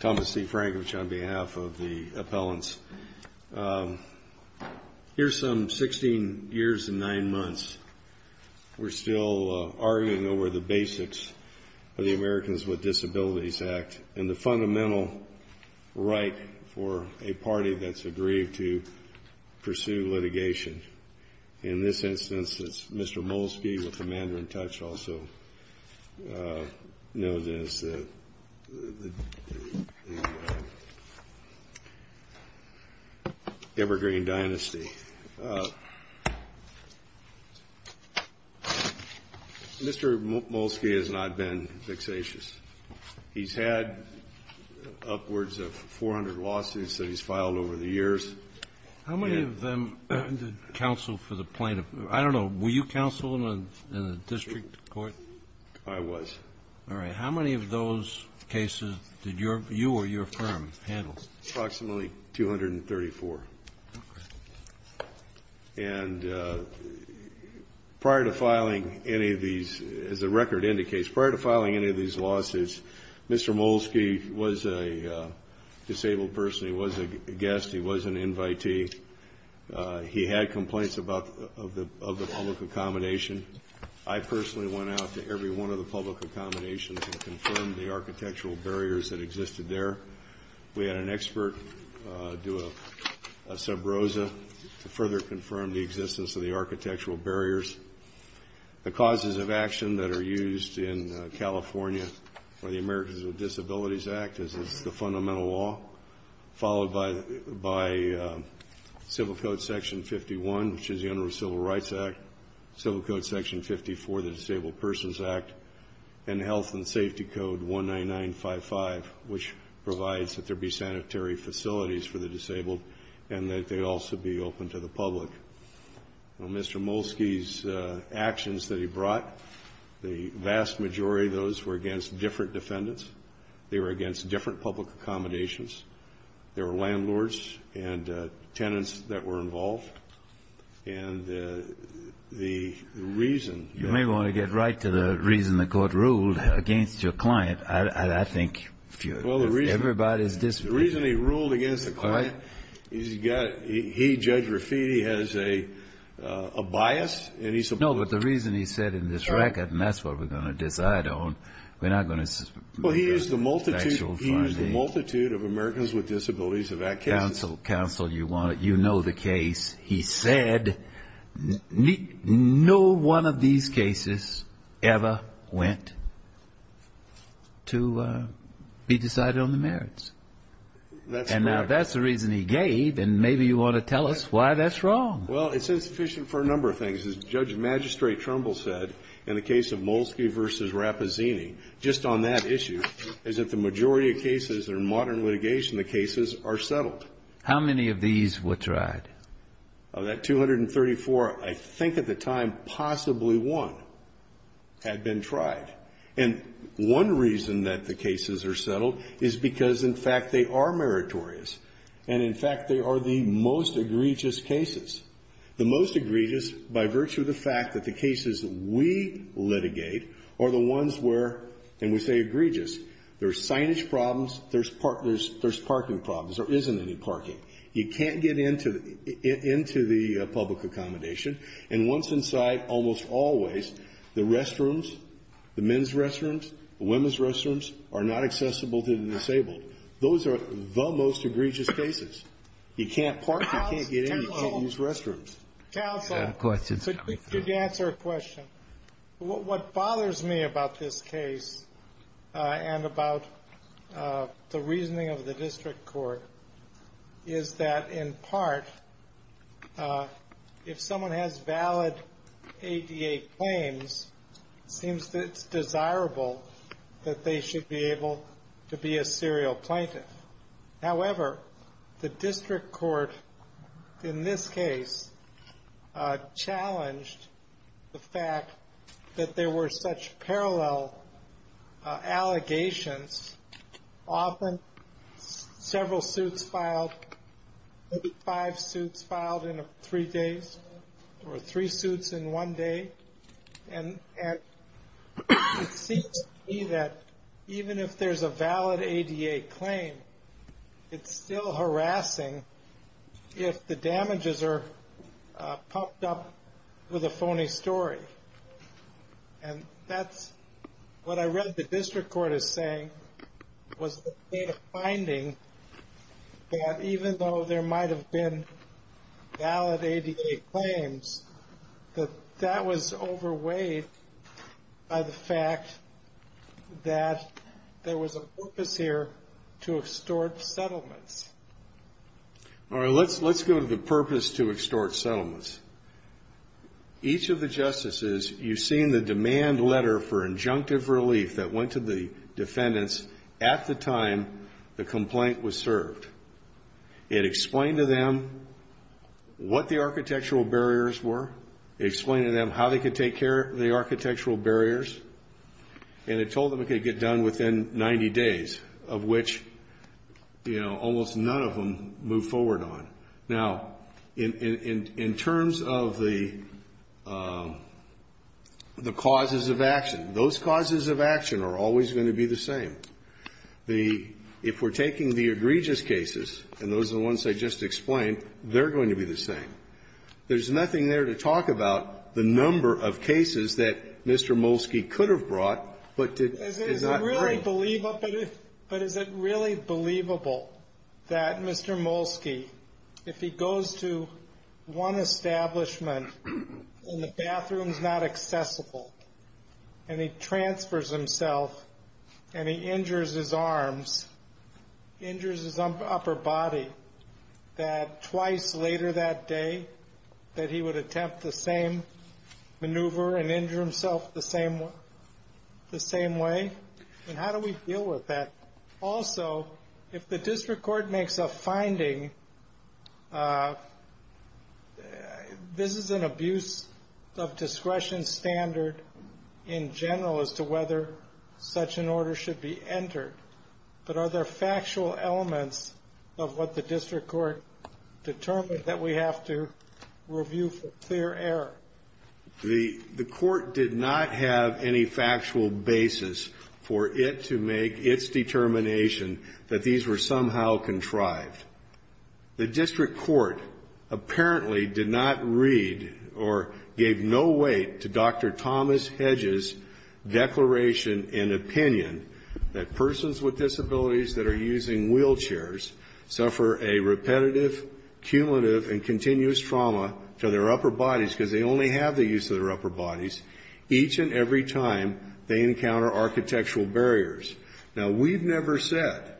Thomas C. Frankridge on behalf of the appellants. Here's some 16 years and 9 months. We're still arguing over the basics of the Americans with Disabilities Act and the fundamental right for a party that's agreed to pursue litigation. In this instance, it's Mr. Molski with the man who I touched also, known as the Evergreen Dynasty. Mr. Molski has not been vexatious. He's had upwards of 400 lawsuits that he's filed over the years. How many of them counseled for the plaintiff? I don't know. Were you counseled in a district court? I was. All right. How many of those cases did you or your firm handle? Approximately 234. And prior to filing any of these, as the record indicates, prior to filing any of these lawsuits, Mr. Molski was a disabled person. He was a guest. He was an invitee. He had complaints of the public accommodation. I personally went out to every one of the public accommodations and confirmed the architectural barriers that existed there. We had an expert do a subrosa to further confirm the existence of the architectural barriers. The causes of action that are used in California by the Americans with Disabilities Act is the fundamental law, followed by Civil Code Section 51, which is the Interim Civil Rights Act, Civil Code Section 54, the Disabled Persons Act, and Health and Safety Code 19955, which provides that there be sanitary facilities for the disabled and that they also be open to the public. On Mr. Molski's actions that he brought, the vast majority of those were against different defendants. They were against different public accommodations. There were landlords and tenants that were involved. And the reason... You may want to get right to the reason the Court ruled against your client. I think everybody's disagreeing. The reason the Court ruled against the client, he, Judge Raffiti, has a bias and he's supposed to... No, but the reason he said in this record, and that's what we're going to decide on, we're not going to... Well, he used the multitude of Americans with Disabilities Act cases. Counsel, you know the case. He said no one of these cases ever went to be decided on the merits. And now that's the reason he gave, and maybe you want to tell us why that's wrong. Well, it's insufficient for a number of things. As Judge Magistrate Trumbull said, in the case of Molski v. Rapazzini, just on that issue, is that the majority of cases that are modern litigation, the cases are settled. How many of these were tried? Of that 234, I think at the time, possibly one had been tried. And one reason that the cases are settled is because, in fact, they are meritorious. And, in fact, they are the most egregious cases. The most egregious by virtue of the fact that the cases we litigate are the ones where, and we say egregious, there's signage problems, there's parking problems, there isn't any parking. You can't get into the public accommodation. And once inside, almost always, the restrooms, the men's restrooms, the women's restrooms, are not accessible to the disabled. Those are the most egregious cases. You can't park, you can't get in, you can't use restrooms. Counsel, could you answer a question? What bothers me about this case, and about the reasoning of the district court, is that, in part, if someone has valid ADA claims, it seems that it's desirable that they should be able to be a serial plaintiff. However, the district court, in this case, challenged the fact that there were such parallel allegations. Often, several suits filed, maybe five suits filed in three days, or three suits in one day. And it seems to me that even if there's a valid ADA claim, it's still harassing if the damages are pumped up with a phony story. And that's what I read the district court as saying, was the state of finding that even though there might have been valid ADA claims, that that was overweighed by the fact that there was a purpose here to extort settlements. All right, let's go to the purpose to extort settlements. Each of the justices, you've seen the demand letter for injunctive relief that went to the defendants at the time the complaint was served. It explained to them what the architectural barriers were. It explained to them how they could take care of the architectural barriers. And it told them it could get done within 90 days, of which, you know, almost none of them moved forward on. Now, in terms of the causes of action, those causes of action are always going to be the same. The, if we're taking the egregious cases, and those are the ones I just explained, they're going to be the same. There's nothing there to talk about the number of cases that Mr. Molsky could have brought, but to, is not. I'm sorry, but is it really believable that Mr. Molsky, if he goes to one establishment and the bathroom's not accessible, and he transfers himself, and he injures his arms, injures his upper body, that twice later that day, that he would attempt the same maneuver and injure himself the same way? And how do we deal with that? Also, if the district court makes a finding, this is an abuse of discretion standard in general as to whether such an order should be entered. But are there factual elements of what the district court determined that we have to review for clear error? The court did not have any factual basis for it to make its determination that these were somehow contrived. The district court apparently did not read or gave no weight to Dr. Thomas Hedges' declaration and opinion that persons with disabilities that are using wheelchairs suffer a repetitive, cumulative, and continuous trauma to their upper bodies, because they only have the use of their upper bodies, each and every time they encounter architectural barriers. Now, we've never said,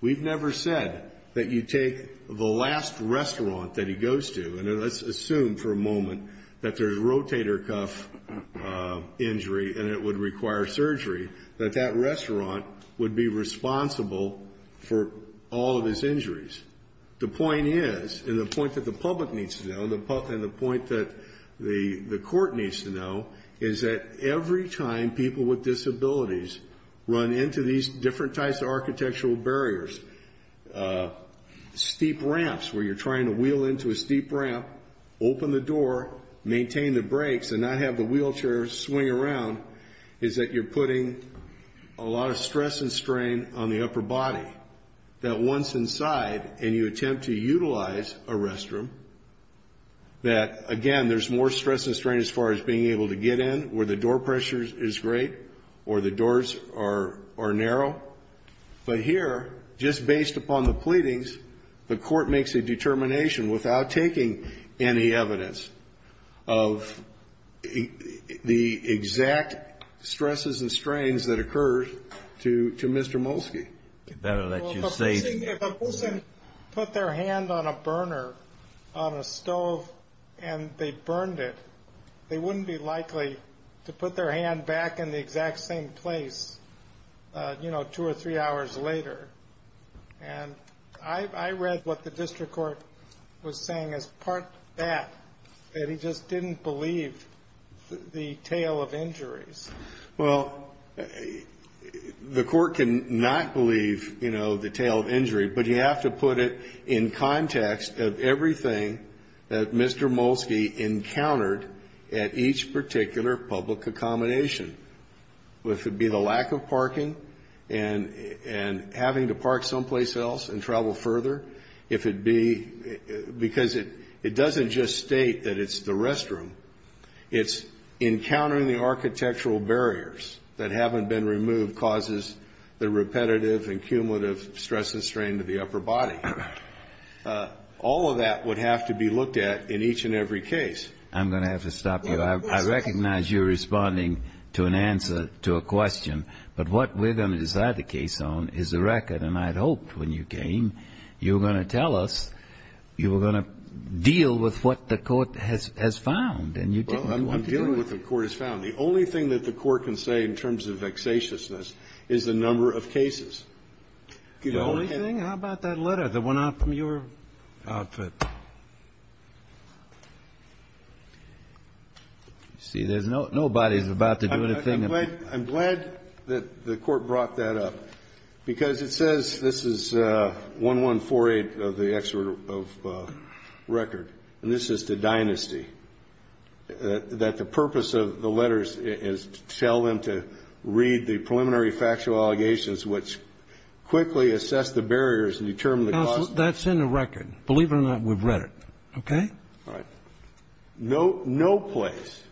we've never said that you take the last restaurant that he goes to, and let's assume for a moment that there's rotator cuff injury and it would require surgery, that that restaurant would be responsible for all of his injuries. The point is, and the point that the public needs to know, and the point that the court needs to know, is that every time people with disabilities run into these different types of architectural barriers, steep ramps where you're trying to wheel into a steep ramp, open the door, maintain the brakes, and not have the wheelchair swing around, is that you're putting a lot of stress and strain on the upper body. That once inside, and you attempt to utilize a restroom, that again, there's more stress and strain as far as being able to get in where the door pressure is great, or the doors are narrow. But here, just based upon the pleadings, the court makes a determination without taking any evidence of the exact stresses and strains that occur to Mr. Molsky. Better let you say- If a person put their hand on a burner, on a stove, and they burned it, they wouldn't be likely to put their hand back in the exact same place, two or three hours later. And I read what the district court was saying as part of that, that he just didn't believe the tale of injuries. Well, the court can not believe the tale of injury, but you have to put it in context of everything that Mr. Molsky encountered at each particular public accommodation. If it be the lack of parking and having to park someplace else and travel further, if it be, because it doesn't just state that it's the restroom. It's encountering the architectural barriers that haven't been removed causes the repetitive and cumulative stress and strain to the upper body. All of that would have to be looked at in each and every case. I'm going to have to stop you. I recognize you're responding to an answer to a question, but what we're going to decide the case on is the record. And I'd hoped when you came, you were going to tell us, you were going to deal with what the court has found, and you didn't. Well, I'm dealing with what the court has found. The only thing that the court can say in terms of vexatiousness is the number of cases. The only thing? How about that letter that went out from your outfit? See, nobody's about to do anything. I'm glad that the court brought that up, because it says this is 1148 of the excerpt of record, and this is the dynasty, that the purpose of the letters is to tell them to read the preliminary factual allegations, which quickly assess the barriers and determine the cause. That's in the record. Believe it or not, we've read it. Okay? All right. No place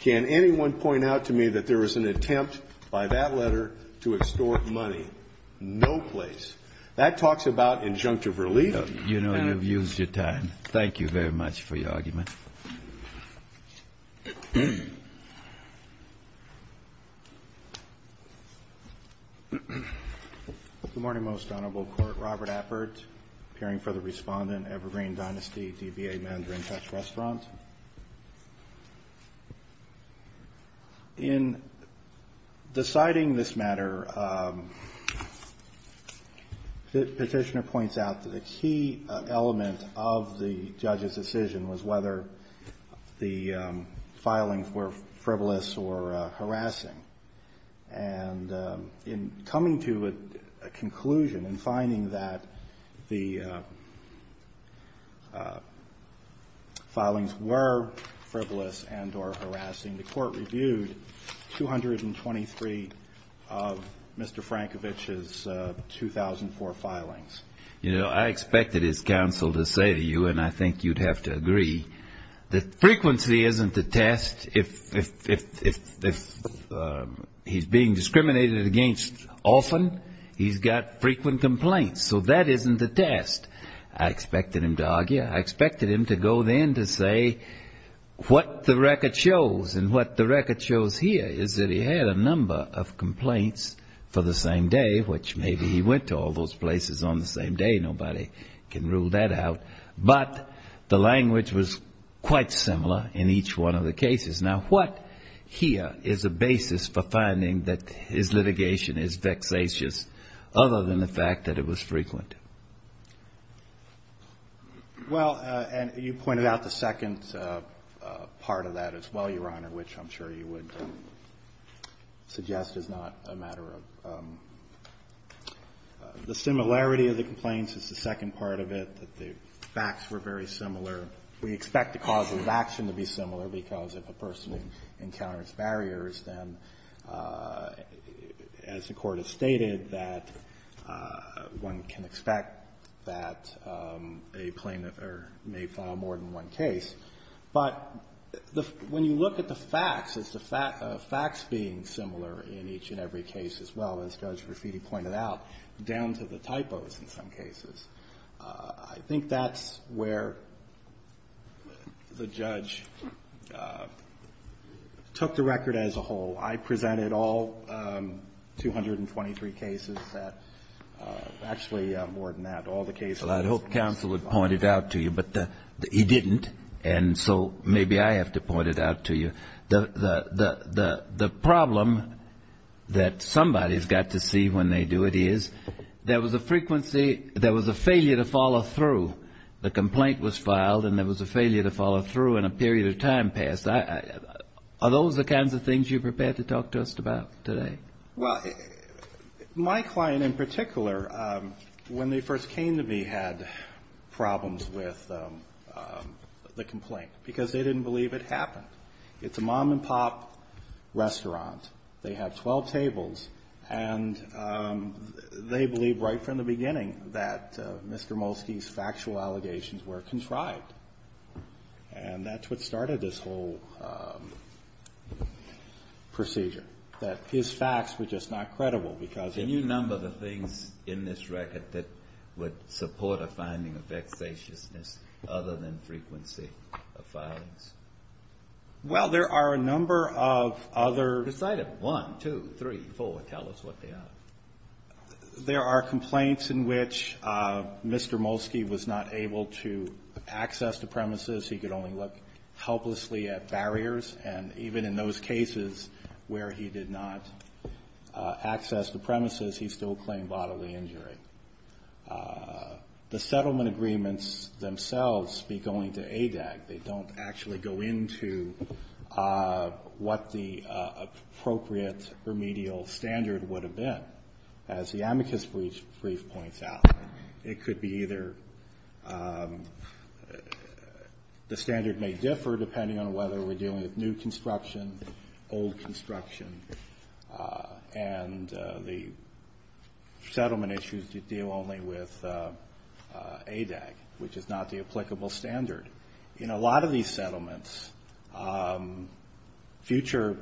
can anyone point out to me that there was an attempt by that letter to extort money. No place. That talks about injunctive relief. You know, you've used your time. Thank you very much for your argument. Good morning, Most Honorable Court. Robert Appert, appearing for the respondent, Evergreen Dynasty, DBA Mandarin Touch Restaurant. In deciding this matter, the petitioner points out that the key element of the judge's decision was whether the filings were frivolous or harassing. And in coming to a conclusion and finding that the filings were frivolous and or harassing, the court reviewed 223 of Mr. Frankovich's 2004 filings. You know, I expected his counsel to say to you, and I think you'd have to agree, that frequency isn't the test. If he's being discriminated against often, he's got frequent complaints. So that isn't the test. I expected him to argue. I expected him to go then to say what the record shows. And what the record shows here is that he had a number of complaints for the same day, which maybe he went to all those places on the same day. Nobody can rule that out. But the language was quite similar in each one of the cases. Now, what here is a basis for finding that his litigation is vexatious, other than the fact that it was frequent? Well, and you pointed out the second part of that as well, Your Honor, which I'm sure you would suggest is not a matter of the similarity of the complaints. It's the second part of it, that the facts were very similar. We expect the cause of action to be similar, because if a person encounters barriers, then, as the Court has stated, that one can expect that a plaintiff may file more than one case. But when you look at the facts, it's the facts being similar in each and every case as well, as Judge Rafiti pointed out, down to the typos in some cases. I think that's where the judge took the record as a whole. I presented all 223 cases that actually, more than that, all the cases. Well, I'd hope counsel had pointed out to you, but he didn't, and so maybe I have to point it out to you. The problem that somebody's got to see when they do it is there was a frequency, there was a failure to follow through. The complaint was filed, and there was a failure to follow through, and a period of time passed. Are those the kinds of things you're prepared to talk to us about today? Well, my client in particular, when they first came to me, had problems with the complaint, because they didn't believe it happened. It's a mom-and-pop restaurant. They have 12 tables, and they believed right from the beginning that Mr. Molsky's factual allegations were contrived, and that's what started this whole procedure. That his facts were just not credible, because of- Can you number the things in this record that would support a finding of vexatiousness other than frequency of filings? Well, there are a number of other- Decide it. One, two, three, four. Tell us what they are. There are complaints in which Mr. Molsky was not able to access the premises. He could only look helplessly at barriers, and even in those cases where he did not access the premises, he still claimed bodily injury. The settlement agreements themselves speak only to ADAC. They don't actually go into what the appropriate remedial standard would have been. As the amicus brief points out, it could be either- The standard may differ depending on whether we're dealing with new construction, old construction, and the settlement issues deal only with ADAC, which is not the applicable standard. In a lot of these settlements, future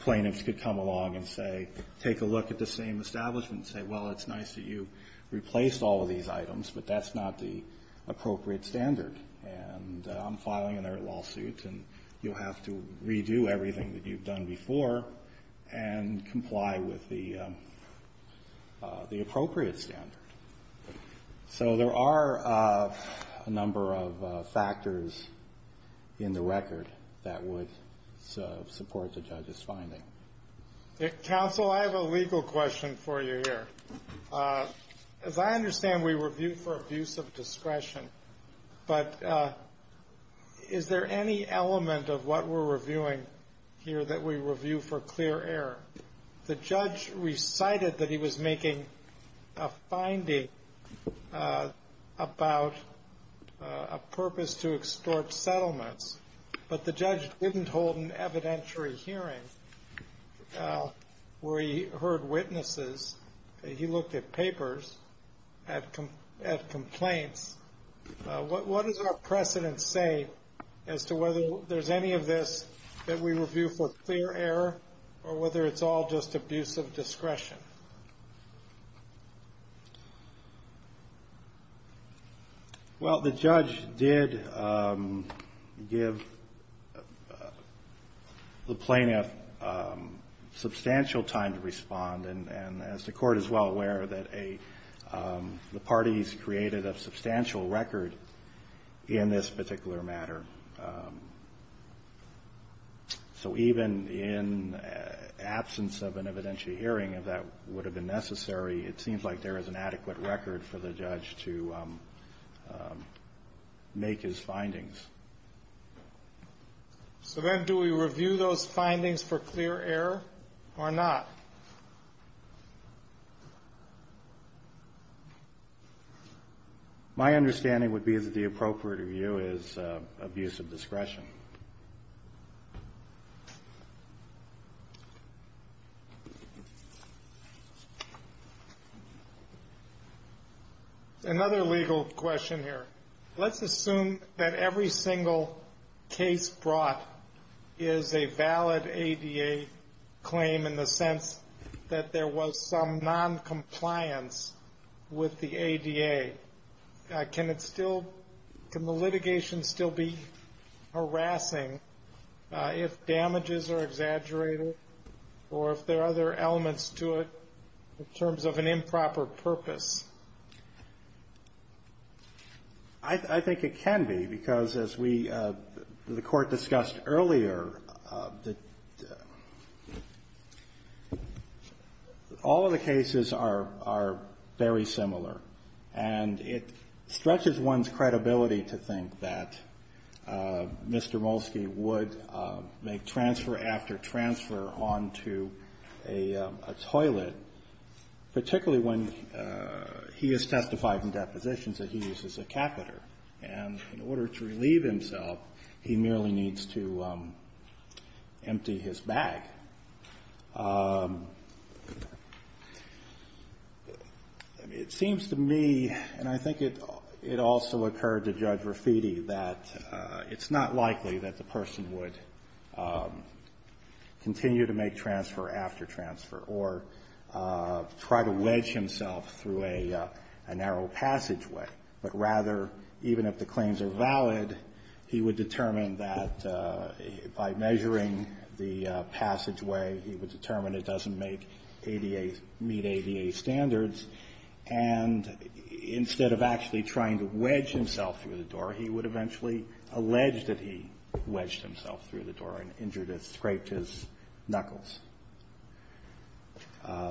plaintiffs could come along and say- Take a look at the same establishment and say, well, it's nice that you replaced all of these items, but that's not the appropriate standard. And I'm filing another lawsuit, and you'll have to redo everything that you've done before and comply with the appropriate standard. So there are a number of factors in the record that would support the judge's finding. Counsel, I have a legal question for you here. As I understand, we review for abuse of discretion, but is there any element of what we're reviewing here that we review for clear error? The judge recited that he was making a finding about a purpose to extort settlements, but the judge didn't hold an evidentiary hearing where he heard witnesses. He looked at papers, at complaints. What does our precedent say as to whether there's any of this that we review for clear error, or whether it's all just abuse of discretion? Well, the judge did give the plaintiff substantial time to respond, and as the court is well aware, that a the parties created a substantial record in this particular matter. So even in absence of an evidentiary hearing, if that would have been necessary, it seems like there is an adequate record for the judge to make his findings. So then do we review those findings for clear error or not? My understanding would be that the appropriate review is abuse of discretion. Another legal question here. Let's assume that every single case brought is a valid ADA claim in the sense that there was some non-compliance with the ADA. Can the litigation still be harassing if damages are exaggerated, or if there are other elements to it in terms of an improper purpose? I think it can be, because as the court discussed earlier, all of the cases are very similar. And it stretches one's credibility to think that Mr. Molsky would make transfer after transfer onto a toilet, particularly when he has testified in depositions that he uses a catheter. And in order to relieve himself, he merely needs to empty his bag. It seems to me, and I think it also occurred to Judge Raffitti, that it's not likely that the person would continue to make transfer after transfer, or try to wedge himself through a narrow passageway. But rather, even if the claims are valid, he would determine that by measuring the passageway, he would determine it doesn't meet ADA standards. And instead of actually trying to wedge himself through the door, he would eventually allege that he wedged himself through the door and injured it, scraped his knuckles.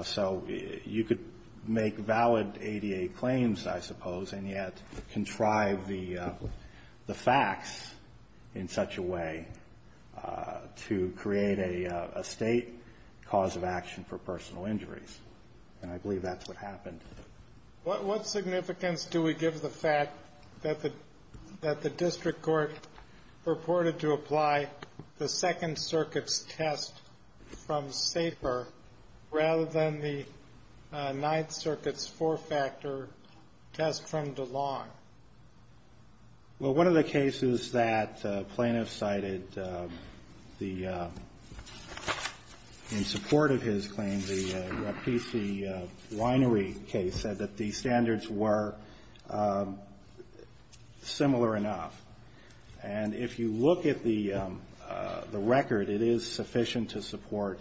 So you could make valid ADA claims, I suppose, and yet contrive the facts in such a way to create a state cause of action for personal injuries. And I believe that's what happened. What significance do we give the fact that the district court purported to apply the Second Circuit's test from Saper, rather than the Ninth Circuit's four-factor test from DeLong? Well, one of the cases that plaintiff cited, in support of his claim, the Rapesee Winery case, said that the standards were similar enough. And if you look at the record, it is sufficient to support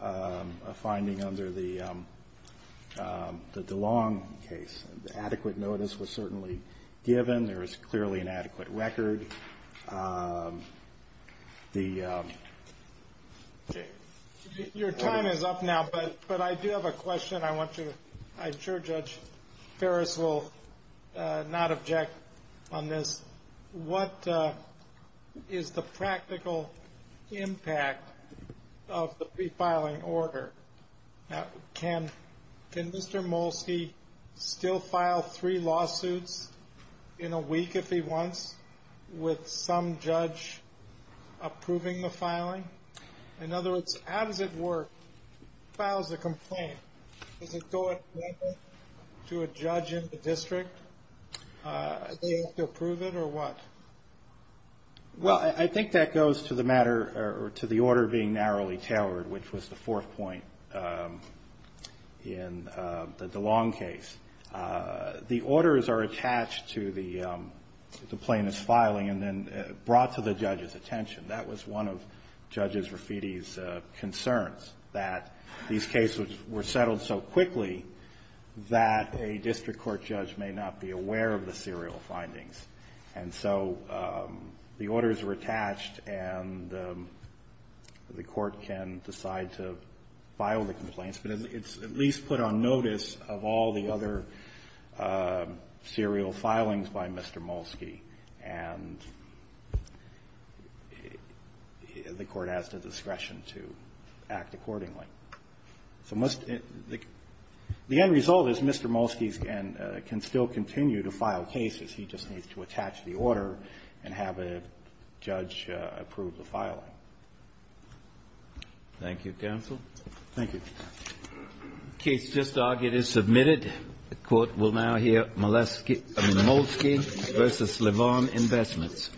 a finding under the DeLong case. Adequate notice was certainly given. There is clearly an adequate record. The- Your time is up now, but I do have a question I want you to, I'm sure Judge Ferris will not object on this. What is the practical impact of the prefiling order? Now, can, can Mr. Molsky still file three lawsuits in a week, if he wants, with some judge approving the filing? In other words, how does it work? Files a complaint. Does it go to a judge in the district? Do they have to approve it, or what? Well, I think that goes to the matter, or to the order being narrowly tailored, which was the fourth point in the DeLong case. The orders are attached to the plaintiff's filing, and then brought to the judge's attention. That was one of Judge Rafiti's concerns, that these cases were settled so quickly that a district court judge may not be aware of the serial findings. And so the orders were attached, and the court can decide to file the complaints. But it's at least put on notice of all the other serial filings by Mr. Molsky. And the court has the discretion to act accordingly. So the end result is Mr. Molsky can still continue to file cases. He just needs to attach the order and have a judge approve the filing. Thank you, counsel. Thank you. The case just argued is submitted. The court will now hear Molsky versus LeVon Investments. Thanks.